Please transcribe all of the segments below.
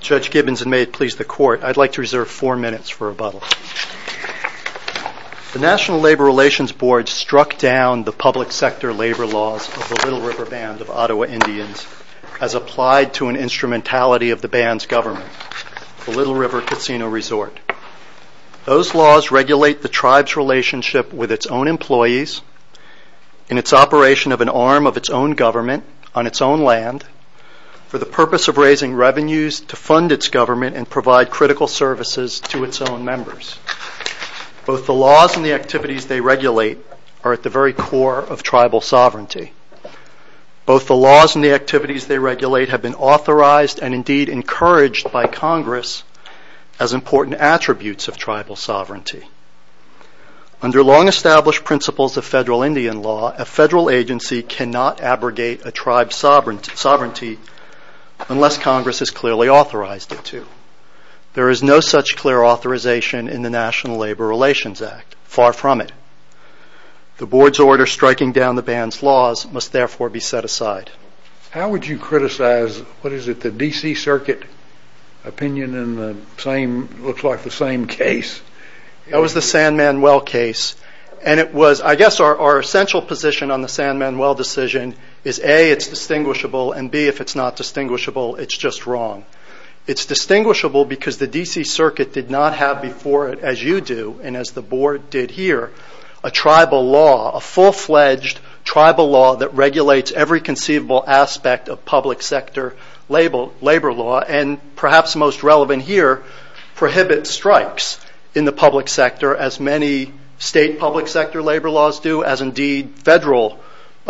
Judge Gibbons and may it please the court, I'd like to reserve four minutes for rebuttal. The National Labor Relations Board struck down the public sector labor laws of the Little to an instrumentality of the band's government, the Little River Casino Resort. Those laws regulate the tribe's relationship with its own employees and its operation of an arm of its own government on its own land for the purpose of raising revenues to fund its government and provide critical services to its own members. Both the laws and the activities are at the very core of tribal sovereignty. Both the laws and the activities they regulate have been authorized and indeed encouraged by Congress as important attributes of tribal sovereignty. Under long established principles of federal Indian law, a federal agency cannot abrogate a tribe's sovereignty unless Congress has clearly authorized it to. There is no such clear authorization in the National Labor Relations Act, far from it. The board's order striking down the band's laws must therefore be set aside. How would you criticize, what is it, the D.C. Circuit opinion in the same, looks like the same case? That was the San Manuel case and it was, I guess our essential position on the San Manuel decision is A, it's distinguishable and B, if it's not distinguishable, it's just wrong. It's distinguishable because the D.C. Circuit did not have before it, as you do and as the board did here, a tribal law, a full-fledged tribal law that regulates every conceivable aspect of public sector labor law and perhaps most relevant here, prohibits strikes in the public sector as many state public sector labor laws do, as indeed federal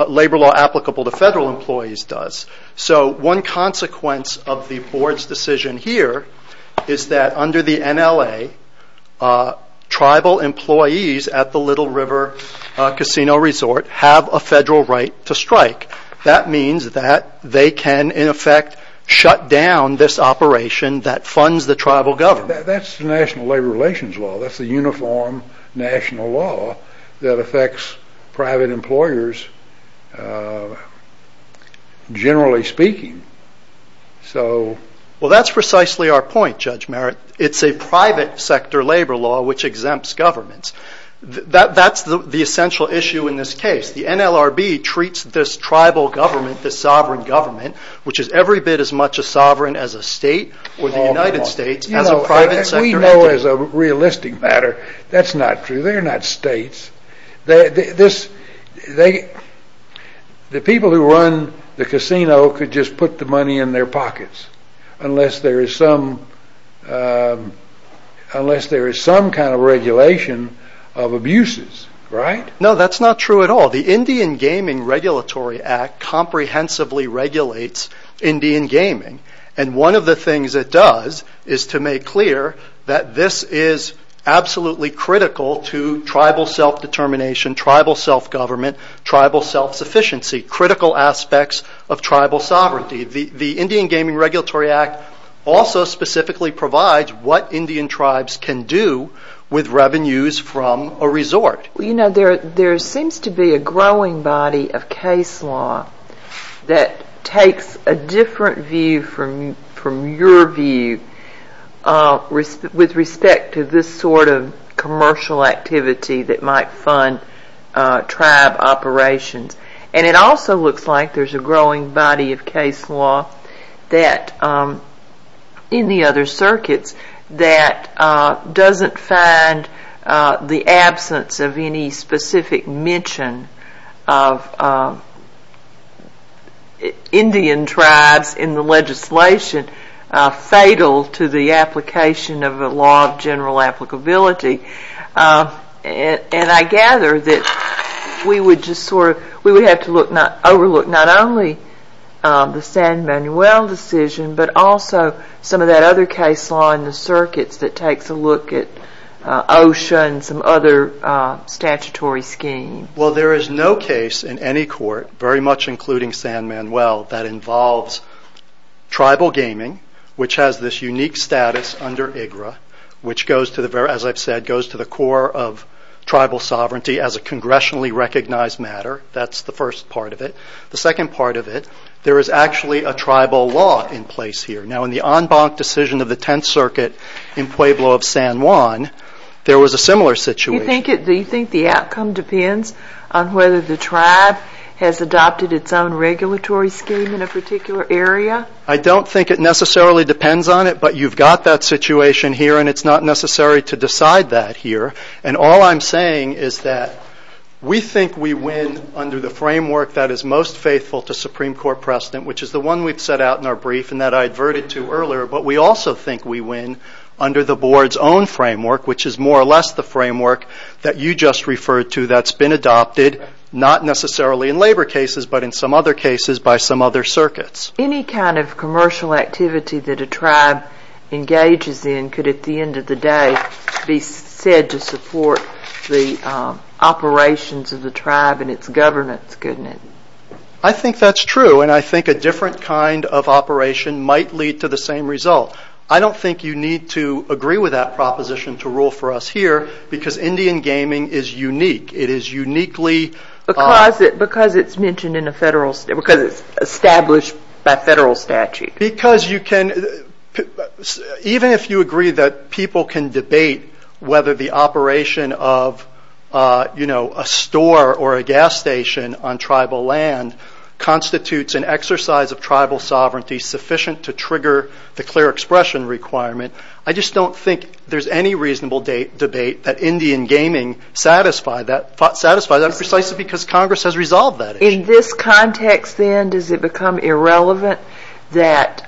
labor law is that under the NLA, tribal employees at the Little River Casino Resort have a federal right to strike. That means that they can, in effect, shut down this operation that funds the tribal government. That's the National Labor Relations law. That's the uniform national law that affects private employers, generally speaking. Well, that's precisely our point, Judge Merritt. It's a private sector labor law which exempts governments. That's the essential issue in this case. The NLRB treats this tribal government, this sovereign government, which is every bit as much a sovereign as a state or the United States, as a private sector entity. We know as a realistic matter that's not true. They're not states. The people who run the casino could just put the money in their pockets unless there is some kind of regulation of abuses, right? No, that's not true at all. The Indian Gaming Regulatory Act comprehensively regulates Indian gaming. One of the things it does is to make clear that this is absolutely critical to tribal self-determination, tribal self-government, tribal self-sufficiency, critical aspects of tribal sovereignty. The Indian Gaming Regulatory Act also specifically provides what Indian tribes can do with revenues from a resort. You know, there seems to be a growing body of case law that takes a different view from your view with respect to this sort of commercial activity that might fund tribe operations. And it also looks like there's a growing body of case law in the other circuits that doesn't find the absence of any specific mention of Indian tribes in the legislation fatal to the application of a law of general applicability. And I gather that we would have to overlook not only the San Manuel decision but also some of that other case law in the circuits that takes a look at OSHA and some other statutory scheme. Well, there is no case in any court, very much including San Manuel, that involves tribal gaming, which has this unique status under IGRA, which goes to the core of tribal sovereignty as a congressionally recognized matter. That's the first part of it. The second part of it, there is actually a tribal law in place here. Now, in the en banc decision of the Tenth Circuit in Pueblo of San Juan, there was a similar situation. Do you think the outcome depends on whether the tribe has adopted its own regulatory scheme in a particular area? I don't think it necessarily depends on it, but you've got that situation here and it's not necessary to decide that here. And all I'm saying is that we think we win under the framework that is most faithful to Supreme Court precedent, which is the one we've set out in our brief and that I adverted to earlier. But we also think we win under the board's own framework, which is more or less the framework that you just referred to that's been adopted, not necessarily in labor cases but in some other cases by some other circuits. Any kind of commercial activity that a tribe engages in could, at the end of the day, be said to support the operations of the tribe and its governance, couldn't it? I think that's true and I think a different kind of operation might lead to the same result. I don't think you need to agree with that proposition to rule for us here because Indian gaming is unique. It is uniquely... Because it's established by federal statute. Even if you agree that people can debate whether the operation of a store or a gas station on tribal land constitutes an exercise of tribal sovereignty sufficient to trigger the clear expression requirement, I just don't think there's any reasonable debate that Indian gaming satisfy that precisely because Congress has resolved that issue. In this context then, does it become irrelevant that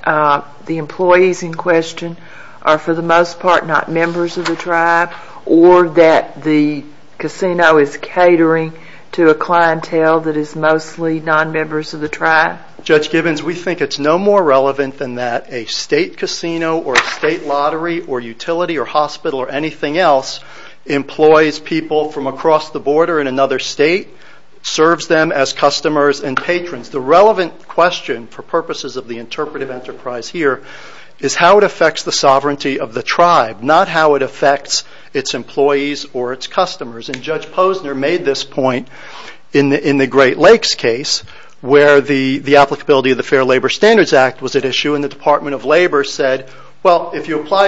the employees in question are for the most part not members of the tribe or that the casino is catering to a clientele that is mostly non-members of the tribe? Judge Gibbons, we think it's no more relevant than that. A state casino or a state lottery or utility or hospital or anything else employs people from across the border in another state, serves them as customers and patrons. The relevant question for purposes of the interpretive enterprise here is how it affects the sovereignty of the tribe, not how it affects its employees or its customers. Judge Posner made this point in the Great Lakes case where the applicability of the Fair Labor Standards Act was at issue and the Department of Labor said, well, if you tribal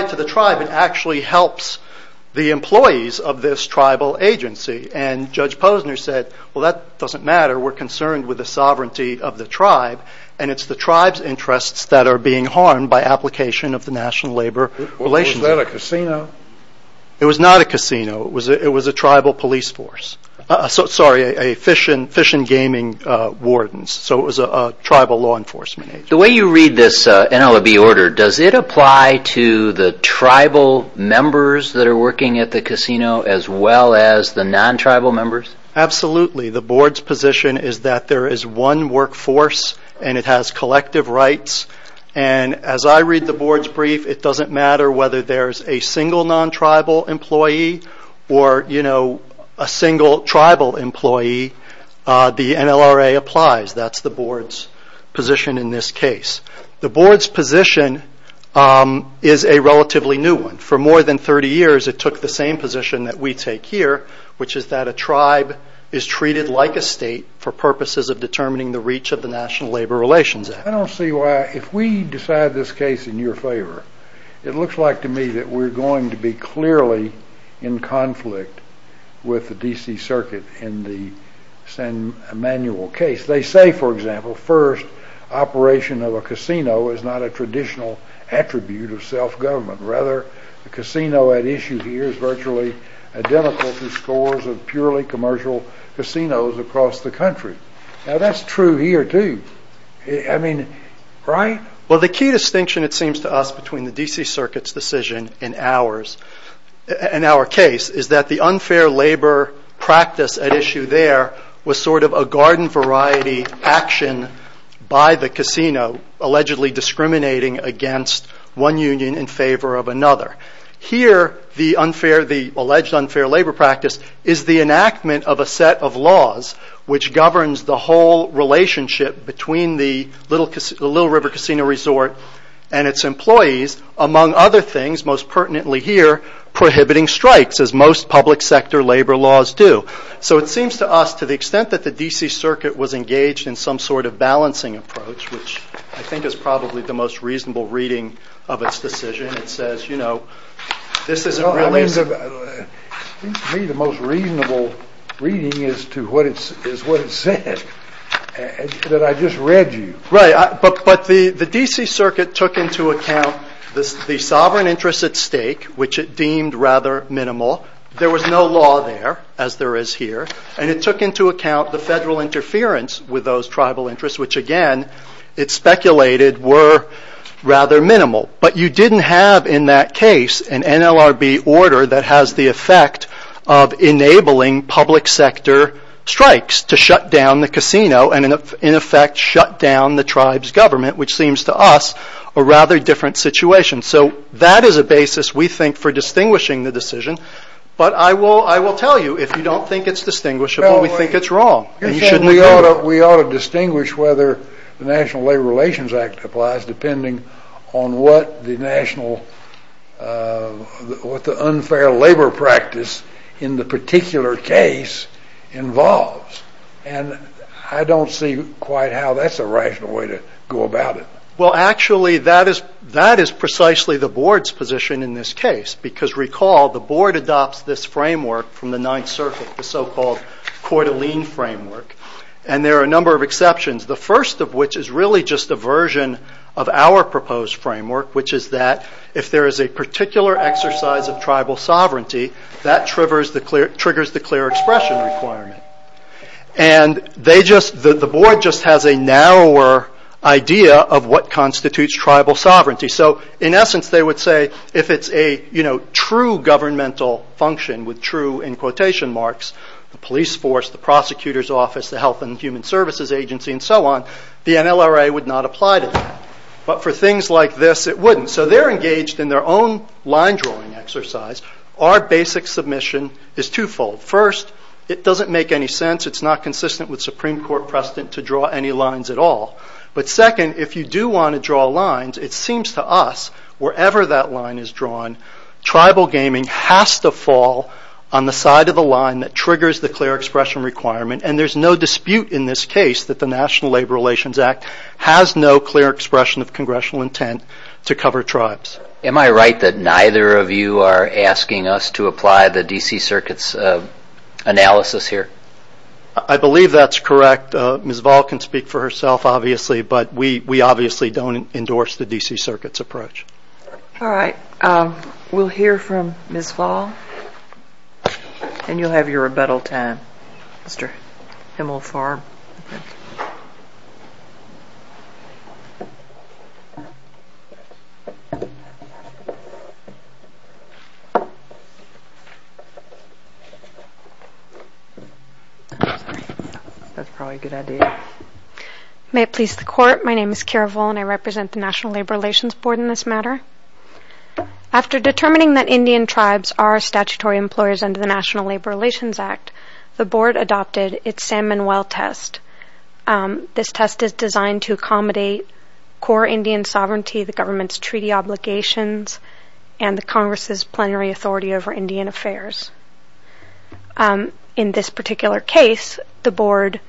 agency and Judge Posner said, well, that doesn't matter. We're concerned with the sovereignty of the tribe and it's the tribe's interests that are being harmed by application of the National Labor Relations Act. Was that a casino? It was not a casino. It was a tribal police force. Sorry, a Fish and Gaming Wardens, so it was a tribal law enforcement agency. The way you read this NLRB order, does it apply to the tribal members that are working at the casino as well as the non-tribal members? Absolutely. The board's position is that there is one workforce and it has collective rights. As I read the board's brief, it doesn't matter whether there's a single non-tribal employee or a single tribal employee. The NLRA applies. That's the board's position in this case. The board's position is a relatively new one. For more than 30 years, it took the same position that we take here, which is that a tribe is treated like a state for purposes of determining the reach of the National Labor Relations Act. I don't see why, if we decide this case in your favor, it looks like to me that we're going to be clearly in conflict with the D.C. Circuit in the Emmanuel case. They say, for example, first, operation of a casino is not a traditional attribute of self-government. Rather, the casino at issue here is virtually identical to scores of purely commercial casinos across the country. Now, that's true here, too. I mean, right? Well, the key distinction, it seems to us, between the D.C. Circuit's decision and our case, is that the unfair labor practice at issue there was sort of a garden-variety action by the casino, allegedly discriminating against one union in favor of another. Here, the alleged unfair labor practice is the enactment of a set of laws which governs the whole relationship between the Little River Casino Resort and its employees, among other things, most pertinently here, prohibiting strikes, as most public sector labor laws do. So it seems to us, to the extent that the D.C. Circuit was engaged in some sort of balancing approach, which I think is probably the most reasonable reading of its decision, it says, you know, this isn't really... Well, I mean, to me, the most reasonable reading is to what it said, that I just read you. Right. But the D.C. Circuit took into account the sovereign interest at stake, which it deemed rather minimal. There was no law there, as there is here. And it took into account the federal interference with those tribal interests, which, again, it speculated were rather minimal. But you didn't have, in that case, an NLRB order that has the effect of enabling public sector strikes to shut down the casino and, in effect, shut down the tribe's government, which seems to us a rather different situation. So that is a basis, we think, for distinguishing the decision. But I will tell you, if you don't think it's distinguishable, we think it's wrong. We ought to distinguish whether the National Labor Relations Act applies, depending on what the unfair labor practice in the particular case involves. And I don't see quite how that's a rational way to go about it. Well, actually, that is precisely the board's position in this case. Because, recall, the board adopts this framework from the Ninth Circuit, the so-called Coeur d'Alene framework. And there are a number of exceptions, the first of which is really just a version of our proposed framework, which is that if there is a particular exercise of tribal sovereignty, that triggers the clear expression requirement. And the board just has a narrower idea of what constitutes tribal sovereignty. So, in essence, they would say if it's a true governmental function with true, in quotation marks, the police force, the prosecutor's office, the Health and Human Services Agency, and so on, the NLRA would not apply to that. But for things like this, it wouldn't. So they're engaged in their own line-drawing exercise. Our basic submission is twofold. First, it doesn't make any sense. It's not consistent with Supreme Court precedent to draw any lines at all. But second, if you do want to draw lines, it seems to us, wherever that line is drawn, tribal gaming has to fall on the side of the line that triggers the clear expression requirement. And there's no dispute in this case that the National Labor Relations Act has no clear expression of congressional intent to cover tribes. Am I right that neither of you are asking us to apply the D.C. Circuit's analysis here? I believe that's correct. Ms. Vahl can speak for herself, obviously, but we obviously don't endorse the D.C. Circuit's approach. All right. We'll hear from Ms. Vahl, and you'll have your rebuttal time, Mr. Himmelfarb. That's probably a good idea. May it please the Court. My name is Kara Voll, and I represent the National Labor Relations Board in this matter. After determining that Indian tribes are statutory employers under the National Labor Relations Act, the Board adopted its San Manuel test. This test is designed to accommodate core Indian sovereignty, the government's treaty obligations, and the Congress's plenary authority over Indian affairs. In this particular case, the Board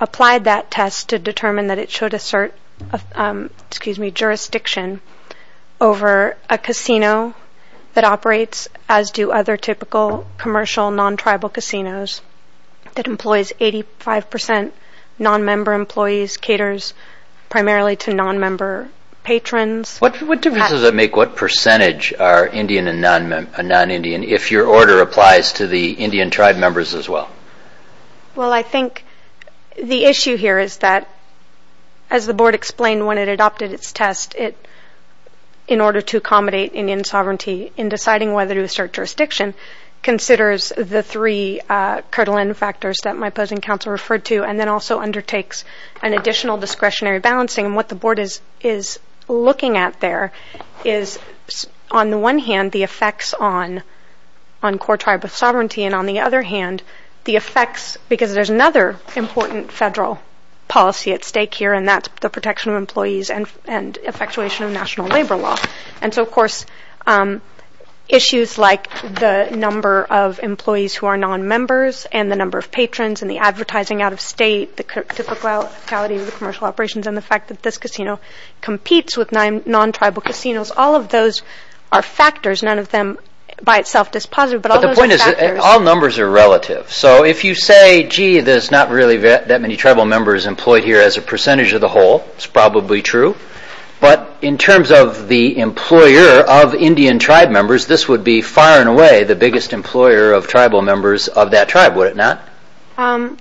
applied that test to determine that it should assert jurisdiction over a casino that operates as do other typical commercial non-tribal casinos that employs 85 percent non-member employees, caters primarily to non-member patrons. What difference does it make what percentage are Indian and non-Indian? If your order applies to the Indian tribe members as well. Well, I think the issue here is that, as the Board explained when it adopted its test, in order to accommodate Indian sovereignty in deciding whether to assert jurisdiction, considers the three Kirtland factors that my opposing counsel referred to and then also undertakes an additional discretionary balancing. And what the Board is looking at there is, on the one hand, the effects on core tribe of sovereignty, and on the other hand, the effects, because there's another important federal policy at stake here, and that's the protection of employees and effectuation of national labor law. And so, of course, issues like the number of employees who are non-members and the number of patrons and the advertising out of state, the typicality of the commercial operations and the fact that this casino competes with non-tribal casinos, all of those are factors, none of them by itself is positive. But the point is, all numbers are relative. So if you say, gee, there's not really that many tribal members employed here as a percentage of the whole, it's probably true. But in terms of the employer of Indian tribe members, this would be far and away the biggest employer of tribal members of that tribe, would it not? I'm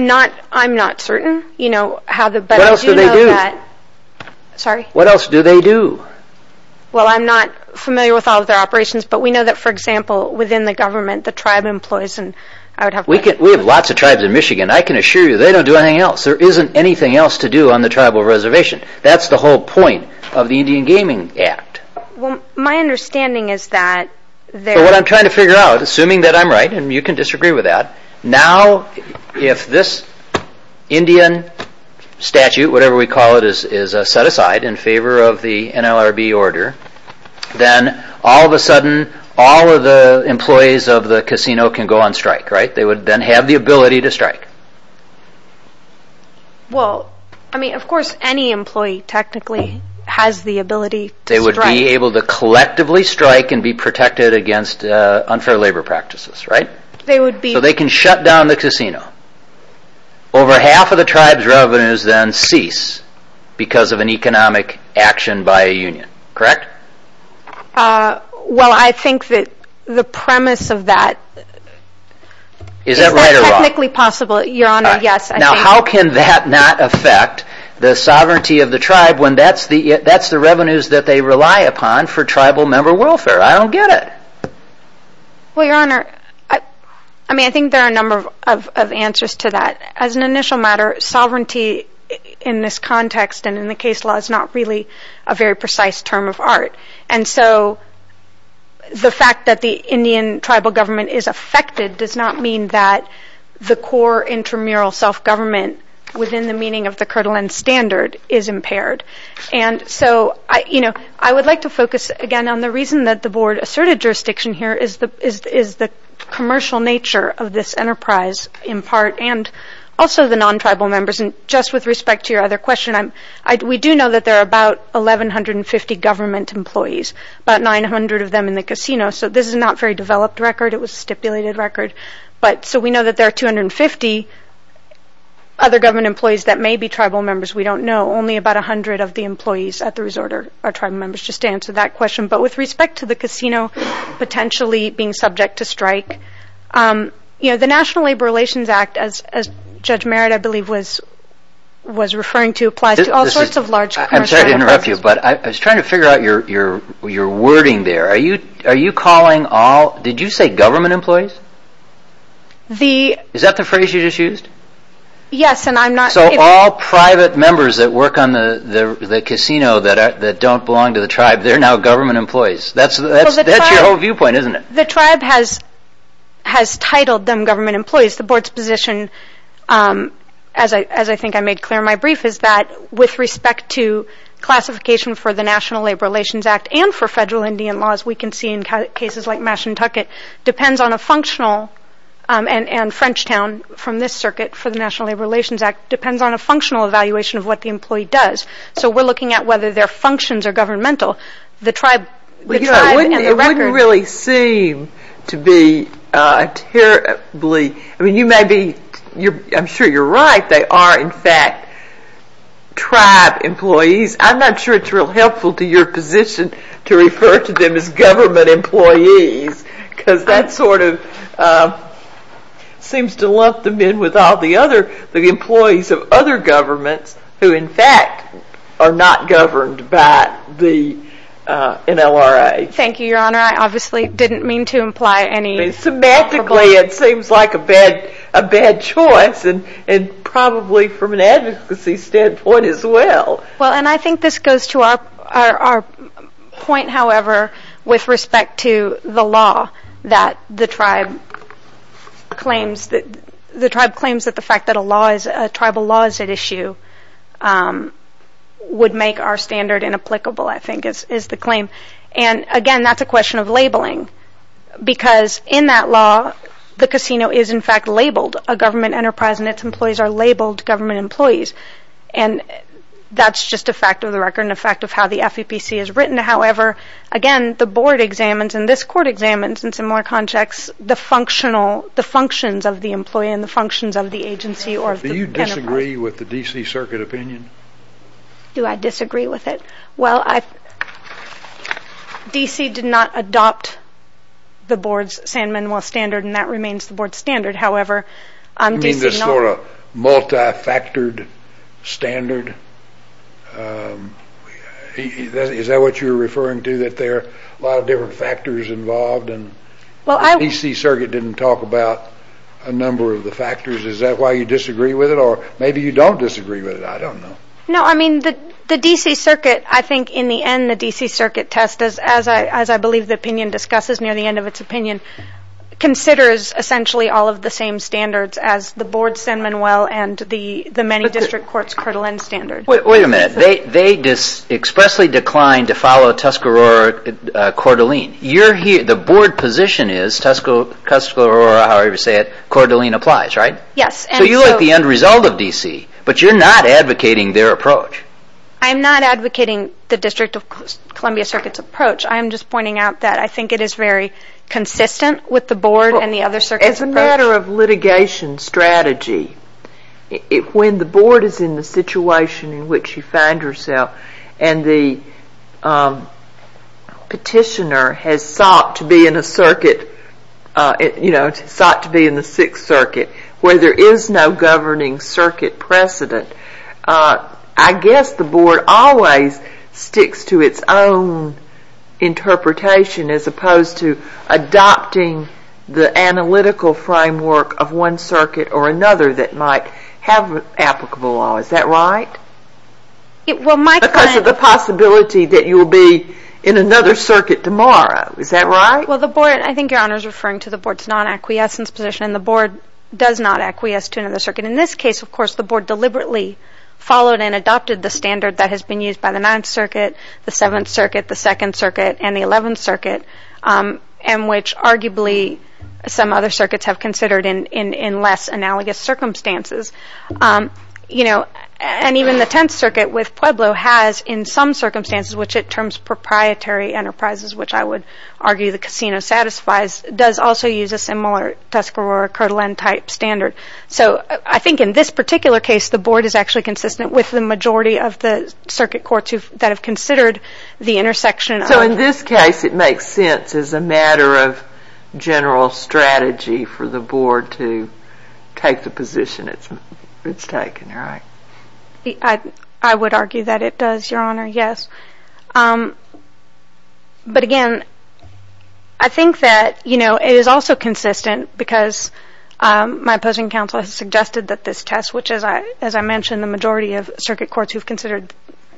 not certain. What else do they do? Sorry? What else do they do? Well, I'm not familiar with all of their operations, but we know that, for example, within the government, the tribe employs... We have lots of tribes in Michigan. I can assure you they don't do anything else. There isn't anything else to do on the tribal reservation. That's the whole point of the Indian Gaming Act. Well, my understanding is that... What I'm trying to figure out, assuming that I'm right, and you can disagree with that, now if this Indian statute, whatever we call it, is set aside in favor of the NLRB order, then all of a sudden, all of the employees of the casino can go on strike, right? They would then have the ability to strike. Well, I mean, of course, any employee technically has the ability to strike. They would be able to collectively strike and be protected against unfair labor practices, right? They would be. So they can shut down the casino. Over half of the tribe's revenues then cease because of an economic action by a union, correct? Well, I think that the premise of that... Is that right or wrong? Is that technically possible, Your Honor? Yes, I think... How can that not affect the sovereignty of the tribe when that's the revenues that they rely upon for tribal member welfare? I don't get it. Well, Your Honor, I mean, I think there are a number of answers to that. As an initial matter, sovereignty in this context and in the case law is not really a very precise term of art. And so the fact that the Indian tribal government is affected does not mean that the core intramural self-government within the meaning of the Kirtland standard is impaired. And so, you know, I would like to focus again on the reason that the board asserted jurisdiction here is the commercial nature of this enterprise in part and also the non-tribal members. Just with respect to your other question, we do know that there are about 1,150 government employees, about 900 of them in the casino. So this is not a very developed record. It was a stipulated record. So we know that there are 250 other government employees that may be tribal members. We don't know. Only about 100 of the employees at the resort are tribal members, just to answer that question. But with respect to the casino potentially being subject to strike, you know, the National Labor Relations Act, as Judge Merritt, I believe, was referring to, applies to all sorts of large commercial enterprises. I'm sorry to interrupt you, but I was trying to figure out your wording there. Are you calling all – did you say government employees? The – Is that the phrase you just used? Yes, and I'm not – So all private members that work on the casino that don't belong to the tribe, they're now government employees. That's your whole viewpoint, isn't it? The tribe has titled them government employees. The board's position, as I think I made clear in my brief, is that with respect to classification for the National Labor Relations Act and for federal Indian laws, we can see in cases like Mashantucket, depends on a functional – and Frenchtown from this circuit for the National Labor Relations Act depends on a functional evaluation of what the employee does. So we're looking at whether their functions are governmental. The tribe and the record – seem to be terribly – I mean, you may be – I'm sure you're right. They are, in fact, tribe employees. I'm not sure it's real helpful to your position to refer to them as government employees because that sort of seems to lump them in with all the other – the employees of other governments who, in fact, are not governed by the NLRA. Thank you, Your Honor. I obviously didn't mean to imply any – Semantically, it seems like a bad choice and probably from an advocacy standpoint as well. Well, and I think this goes to our point, however, with respect to the law that the tribe claims that – the tribe claims that the fact that a law is – a tribal law is at issue would make our standard inapplicable, I think is the claim. And, again, that's a question of labeling because in that law the casino is, in fact, labeled a government enterprise and its employees are labeled government employees. And that's just a fact of the record and a fact of how the FEPC is written. However, again, the board examines and this court examines in similar contexts the functions of the employee and the functions of the agency or the enterprise. Do you disagree with the D.C. Circuit opinion? Do I disagree with it? Well, D.C. did not adopt the board's San Manuel standard and that remains the board's standard. However, D.C. – You mean this sort of multi-factored standard? Is that what you're referring to, that there are a lot of different factors involved? The D.C. Circuit didn't talk about a number of the factors. Is that why you disagree with it or maybe you don't disagree with it? I don't know. No, I mean the D.C. Circuit, I think in the end the D.C. Circuit test, as I believe the opinion discusses near the end of its opinion, considers essentially all of the same standards as the board's San Manuel and the many district courts' Coeur d'Alene standard. Wait a minute. They expressly declined to follow Tuscarora-Coeur d'Alene. The board position is Tuscarora, however you say it, Coeur d'Alene applies, right? Yes. So you like the end result of D.C. but you're not advocating their approach. I'm not advocating the District of Columbia Circuit's approach. I'm just pointing out that I think it is very consistent with the board and the other circuits' approach. As a matter of litigation strategy, when the board is in the situation in which you find yourself and the petitioner has sought to be in a circuit, you know, sought to be in the Sixth Circuit, where there is no governing circuit precedent, I guess the board always sticks to its own interpretation as opposed to adopting the analytical framework of one circuit or another that might have applicable law. Is that right? Because of the possibility that you will be in another circuit tomorrow. Is that right? Well, I think Your Honor is referring to the board's non-acquiescence position and the board does not acquiesce to another circuit. In this case, of course, the board deliberately followed and adopted the standard that has been used by the Ninth Circuit, the Seventh Circuit, the Second Circuit, and the Eleventh Circuit and which arguably some other circuits have considered in less analogous circumstances. You know, and even the Tenth Circuit with Pueblo has in some circumstances, which it terms proprietary enterprises, which I would argue the casino satisfies, does also use a similar Tuscarora-Kirtland type standard. So I think in this particular case, the board is actually consistent with the majority of the circuit courts that have considered the intersection. So in this case, it makes sense as a matter of general strategy for the board to take the position it's taken, right? I would argue that it does, Your Honor, yes. But again, I think that, you know, it is also consistent because my opposing counsel has suggested that this test, which as I mentioned, the majority of circuit courts who have considered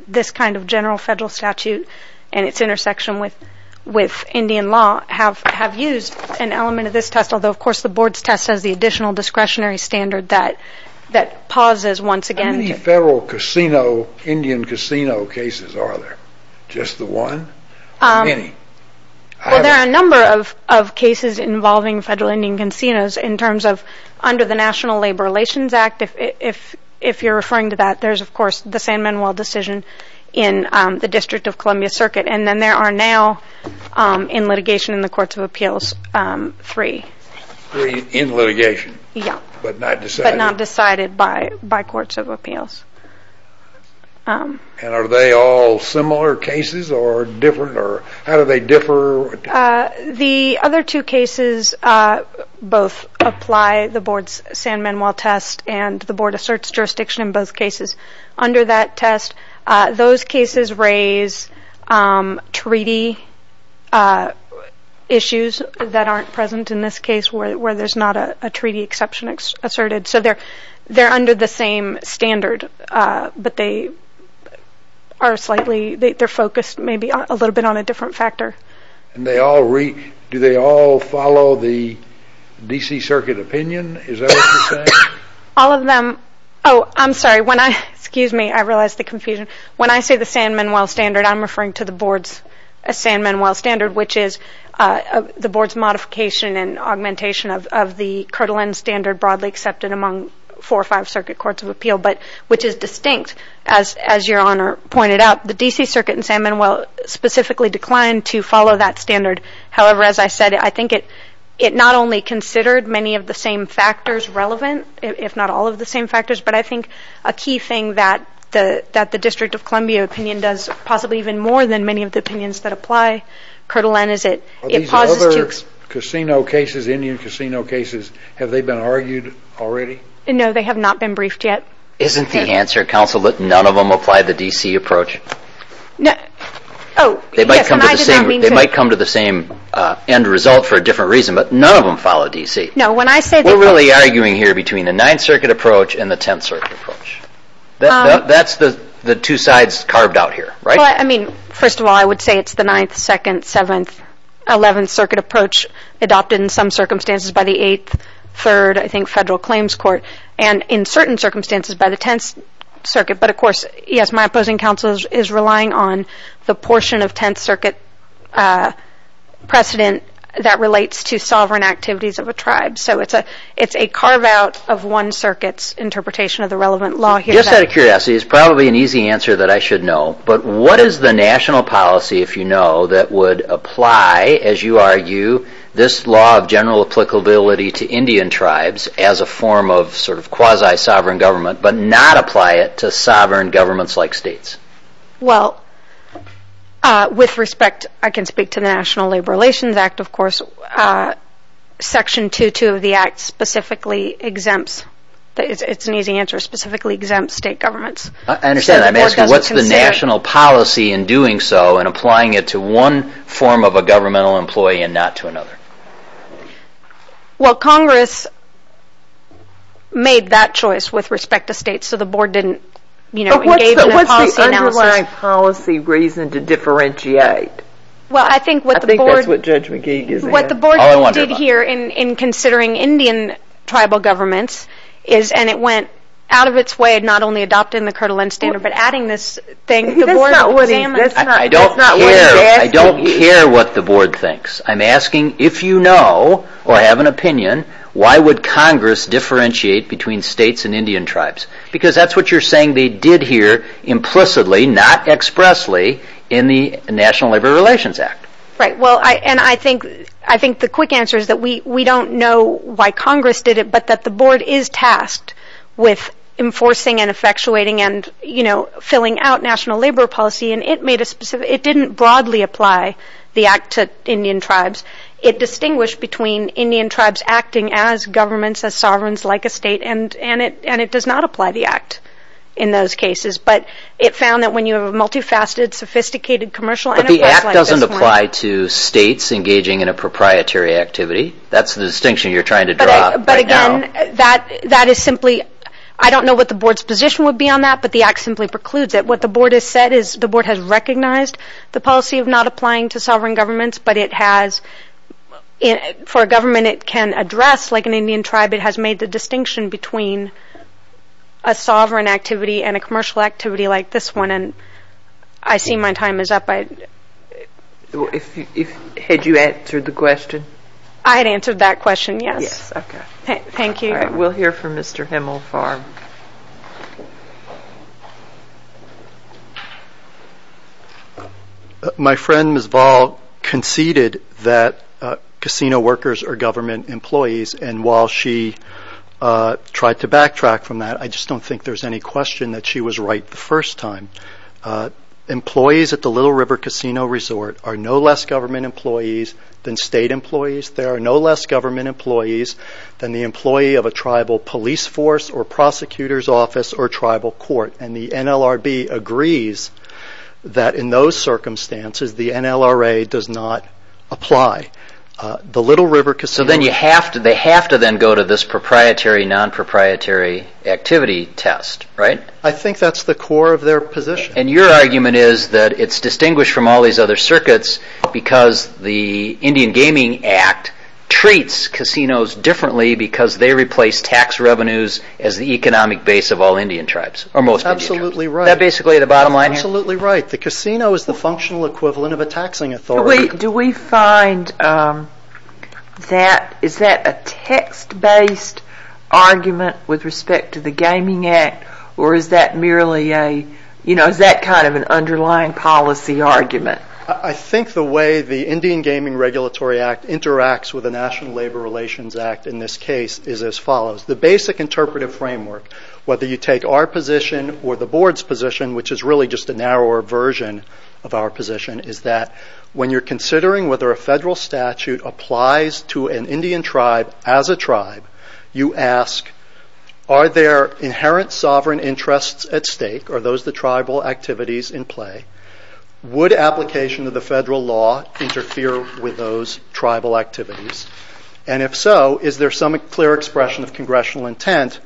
this kind of general federal statute and its intersection with Indian law have used an element of this test, although of course the board's test has the additional discretionary standard that pauses once again. How many federal casino, Indian casino cases are there? Just the one or many? Well, there are a number of cases involving federal Indian casinos in terms of under the National Labor Relations Act, if you're referring to that, there's of course the San Manuel decision in the District of Columbia Circuit, and then there are now in litigation in the Courts of Appeals three. Three in litigation? Yeah. But not decided? But not decided by Courts of Appeals. And are they all similar cases or different, or how do they differ? The other two cases both apply the board's San Manuel test and the board asserts jurisdiction in both cases under that test. Those cases raise treaty issues that aren't present in this case where there's not a treaty exception asserted. So they're under the same standard, but they're focused maybe a little bit on a different factor. And do they all follow the D.C. Circuit opinion? Is that what you're saying? All of them. Oh, I'm sorry. Excuse me, I realized the confusion. When I say the San Manuel standard, I'm referring to the board's San Manuel standard, which is the board's modification and augmentation of the Kirtland standard broadly accepted among four or five Circuit Courts of Appeal, which is distinct, as Your Honor pointed out. The D.C. Circuit in San Manuel specifically declined to follow that standard. However, as I said, I think it not only considered many of the same factors relevant, if not all of the same factors, but I think a key thing that the District of Columbia opinion does, possibly even more than many of the opinions that apply, Kirtland is it. Are these other casino cases, Indian casino cases, have they been argued already? No, they have not been briefed yet. Isn't the answer, counsel, that none of them apply the D.C. approach? Oh, yes, and I did not mean to. They might come to the same end result for a different reason, but none of them follow D.C. No, when I say they follow D.C. We're really arguing here between the Ninth Circuit approach and the Tenth Circuit approach. That's the two sides carved out here, right? Well, I mean, first of all, I would say it's the Ninth, Second, Seventh, Eleventh Circuit approach adopted in some circumstances by the Eighth, Third, I think Federal Claims Court, and in certain circumstances by the Tenth Circuit. But, of course, yes, my opposing counsel is relying on the portion of Tenth Circuit precedent that relates to sovereign activities of a tribe. So it's a carve-out of one circuit's interpretation of the relevant law here. Just out of curiosity, it's probably an easy answer that I should know, but what is the national policy, if you know, that would apply, as you argue, this law of general applicability to Indian tribes as a form of sort of quasi-sovereign government, but not apply it to sovereign governments like states? Well, with respect, I can speak to the National Labor Relations Act, of course, Section 2.2 of the Act specifically exempts, it's an easy answer, specifically exempts state governments. I understand. I'm asking what's the national policy in doing so and applying it to one form of a governmental employee and not to another? Well, Congress made that choice with respect to states, so the Board didn't, you know, engage in a policy analysis. But what's the underlying policy reason to differentiate? Well, I think what the Board did here in considering Indian tribal governments is, and it went out of its way not only adopting the Kirtland Standard, but adding this thing. That's not what he's asking. I don't care what the Board thinks. I'm asking if you know or have an opinion, why would Congress differentiate between states and Indian tribes? Because that's what you're saying they did here implicitly, not expressly, in the National Labor Relations Act. Right. Well, and I think the quick answer is that we don't know why Congress did it, but that the Board is tasked with enforcing and effectuating and, you know, filling out national labor policy, and it didn't broadly apply the Act to Indian tribes. It distinguished between Indian tribes acting as governments, as sovereigns, like a state, and it does not apply the Act in those cases. But it found that when you have a multifaceted, sophisticated commercial enterprise like this one. But the Act doesn't apply to states engaging in a proprietary activity. That's the distinction you're trying to draw right now. But, again, that is simply, I don't know what the Board's position would be on that, but the Act simply precludes it. What the Board has said is the Board has recognized the policy of not applying to sovereign governments, but it has, for a government it can address, like an Indian tribe, it has made the distinction between a sovereign activity and a commercial activity like this one. And I see my time is up. Had you answered the question? I had answered that question, yes. Yes, okay. Thank you. All right, we'll hear from Mr. Himmelfarm. My friend, Ms. Vall, conceded that casino workers are government employees, and while she tried to backtrack from that, I just don't think there's any question that she was right the first time. Employees at the Little River Casino Resort are no less government employees than state employees. They are no less government employees than the employee of a tribal police force or prosecutor's office or tribal court. And the NLRB agrees that in those circumstances the NLRA does not apply. So they have to then go to this proprietary, non-proprietary activity test, right? I think that's the core of their position. And your argument is that it's distinguished from all these other circuits because the Indian Gaming Act treats casinos differently because they replace tax revenues as the economic base of all Indian tribes, or most Indian tribes. Absolutely right. Is that basically the bottom line here? Absolutely right. The casino is the functional equivalent of a taxing authority. Do we find that, is that a text-based argument with respect to the Gaming Act, or is that merely a, you know, is that kind of an underlying policy argument? I think the way the Indian Gaming Regulatory Act interacts with the National Labor Relations Act in this case is as follows. The basic interpretive framework, whether you take our position or the board's position, which is really just a narrower version of our position, is that when you're considering whether a federal statute applies to an Indian tribe as a tribe, you ask, are there inherent sovereign interests at stake? Are those the tribal activities in play? Would application of the federal law interfere with those tribal activities? And if so, is there some clear expression of congressional intent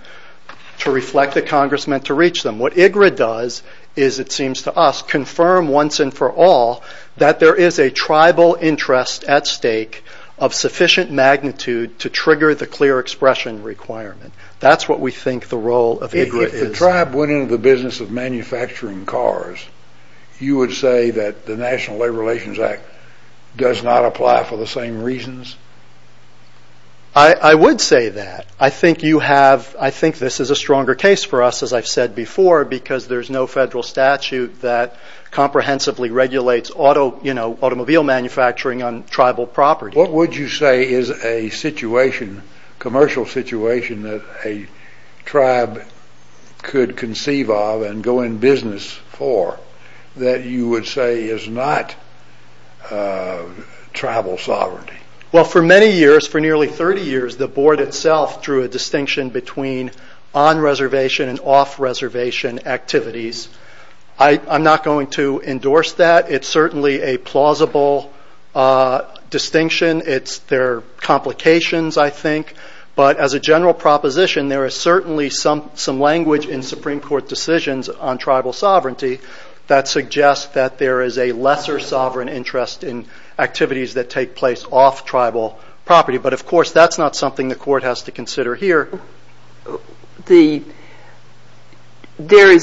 to reflect the congressmen to reach them? What IGRA does is, it seems to us, confirm once and for all that there is a tribal interest at stake of sufficient magnitude to trigger the clear expression requirement. That's what we think the role of IGRA is. If the tribe went into the business of manufacturing cars, you would say that the National Labor Relations Act does not apply for the same reasons? I would say that. I think this is a stronger case for us, as I've said before, because there's no federal statute that comprehensively regulates automobile manufacturing on tribal property. What would you say is a commercial situation that a tribe could conceive of and go in business for that you would say is not tribal sovereignty? Well, for many years, for nearly 30 years, the board itself drew a distinction between on-reservation and off-reservation activities. I'm not going to endorse that. It's certainly a plausible distinction. There are complications, I think, but as a general proposition, there is certainly some language in Supreme Court decisions on tribal sovereignty that suggests that there is a lesser sovereign interest in activities that take place off tribal property. But, of course, that's not something the court has to consider here. The Federal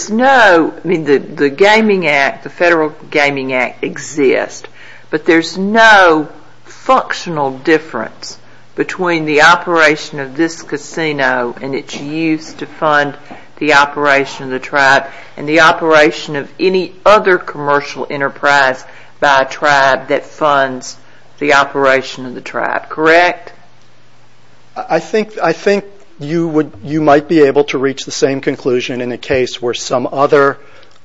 Gaming Act exists, but there's no functional difference between the operation of this casino and its use to fund the operation of the tribe and the operation of any other commercial enterprise by a tribe that funds the operation of the tribe. Correct? I think you might be able to reach the same conclusion in a case where some other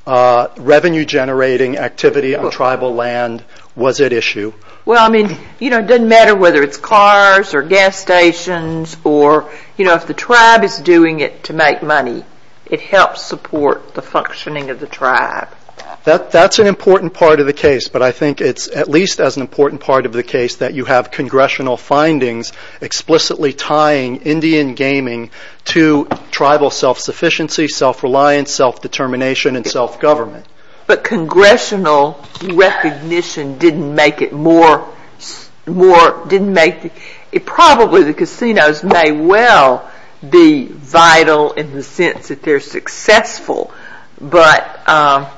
revenue-generating activity on tribal land was at issue. Well, I mean, it doesn't matter whether it's cars or gas stations or, you know, if the tribe is doing it to make money, it helps support the functioning of the tribe. That's an important part of the case, but I think it's at least as an important part of the case that you have congressional findings explicitly tying Indian gaming to tribal self-sufficiency, self-reliance, self-determination, and self-government. But congressional recognition didn't make it more... Probably the casinos may well be vital in the sense that they're successful, but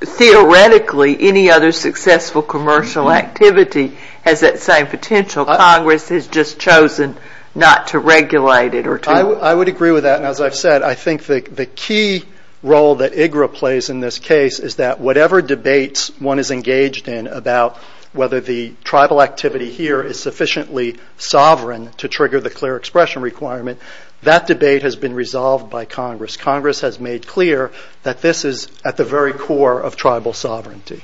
theoretically any other successful commercial activity has that same potential. Congress has just chosen not to regulate it or to... I would agree with that, and as I've said, I think the key role that IGRA plays in this case is that whatever debates one is engaged in about whether the tribal activity here is sufficiently sovereign to trigger the clear expression requirement, that debate has been resolved by Congress. Congress has made clear that this is at the very core of tribal sovereignty.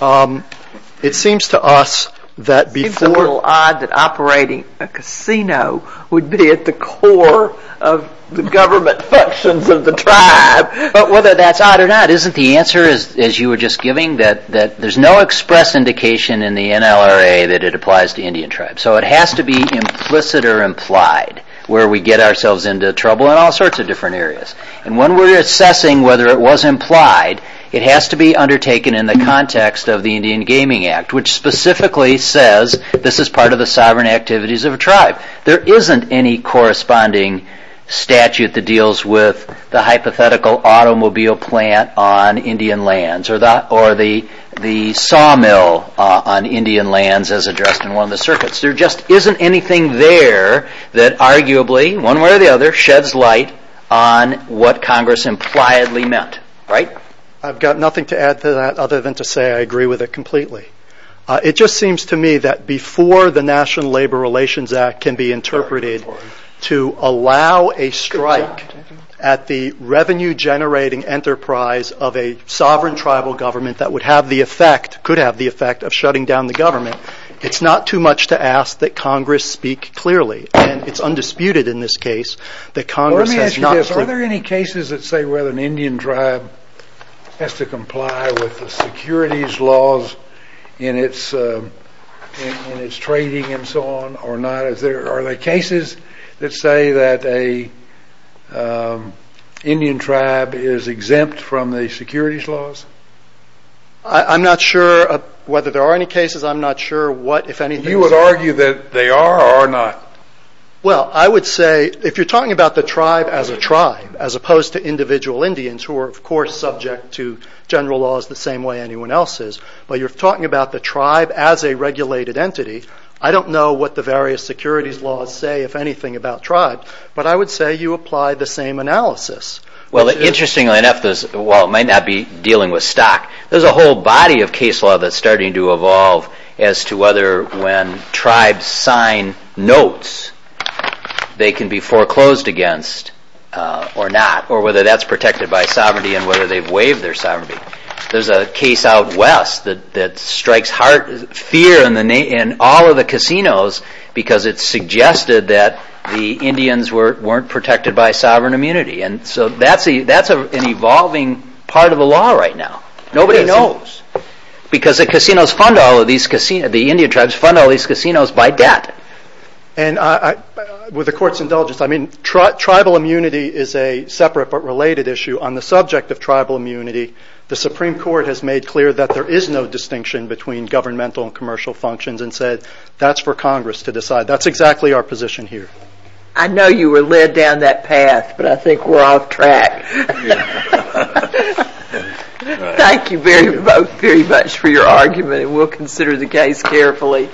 It seems to us that before... It seems a little odd that operating a casino would be at the core of the government functions of the tribe, but whether that's odd or not, isn't the answer, as you were just giving, that there's no express indication in the NLRA that it applies to Indian tribes? So it has to be implicit or implied where we get ourselves into trouble in all sorts of different areas, and when we're assessing whether it was implied, it has to be undertaken in the context of the Indian Gaming Act, which specifically says this is part of the sovereign activities of a tribe. There isn't any corresponding statute that deals with the hypothetical automobile plant on Indian lands or the sawmill on Indian lands as addressed in one of the circuits. There just isn't anything there that arguably, one way or the other, sheds light on what Congress impliedly meant, right? I've got nothing to add to that other than to say I agree with it completely. It just seems to me that before the National Labor Relations Act can be interpreted to allow a strike at the revenue-generating enterprise of a sovereign tribal government that would have the effect, could have the effect, of shutting down the government, it's not too much to ask that Congress speak clearly, and it's undisputed in this case that Congress has not... in its trading and so on or not. Are there cases that say that an Indian tribe is exempt from the securities laws? I'm not sure whether there are any cases. I'm not sure what, if anything... You would argue that they are or are not. Well, I would say if you're talking about the tribe as a tribe as opposed to individual Indians who are, of course, subject to general laws the same way anyone else is, but you're talking about the tribe as a regulated entity, I don't know what the various securities laws say, if anything, about tribe, but I would say you apply the same analysis. Well, interestingly enough, while it might not be dealing with stock, there's a whole body of case law that's starting to evolve as to whether when tribes sign notes they can be foreclosed against or not, or whether that's protected by sovereignty and whether they've waived their sovereignty. There's a case out west that strikes fear in all of the casinos because it's suggested that the Indians weren't protected by sovereign immunity, and so that's an evolving part of the law right now. Nobody knows because the casinos fund all of these... The Indian tribes fund all these casinos by debt. And with the Court's indulgence, I mean, tribal immunity is a separate but related issue. On the subject of tribal immunity, the Supreme Court has made clear that there is no distinction between governmental and commercial functions and said that's for Congress to decide. That's exactly our position here. I know you were led down that path, but I think we're off track. Thank you both very much for your argument, and we'll consider the case carefully.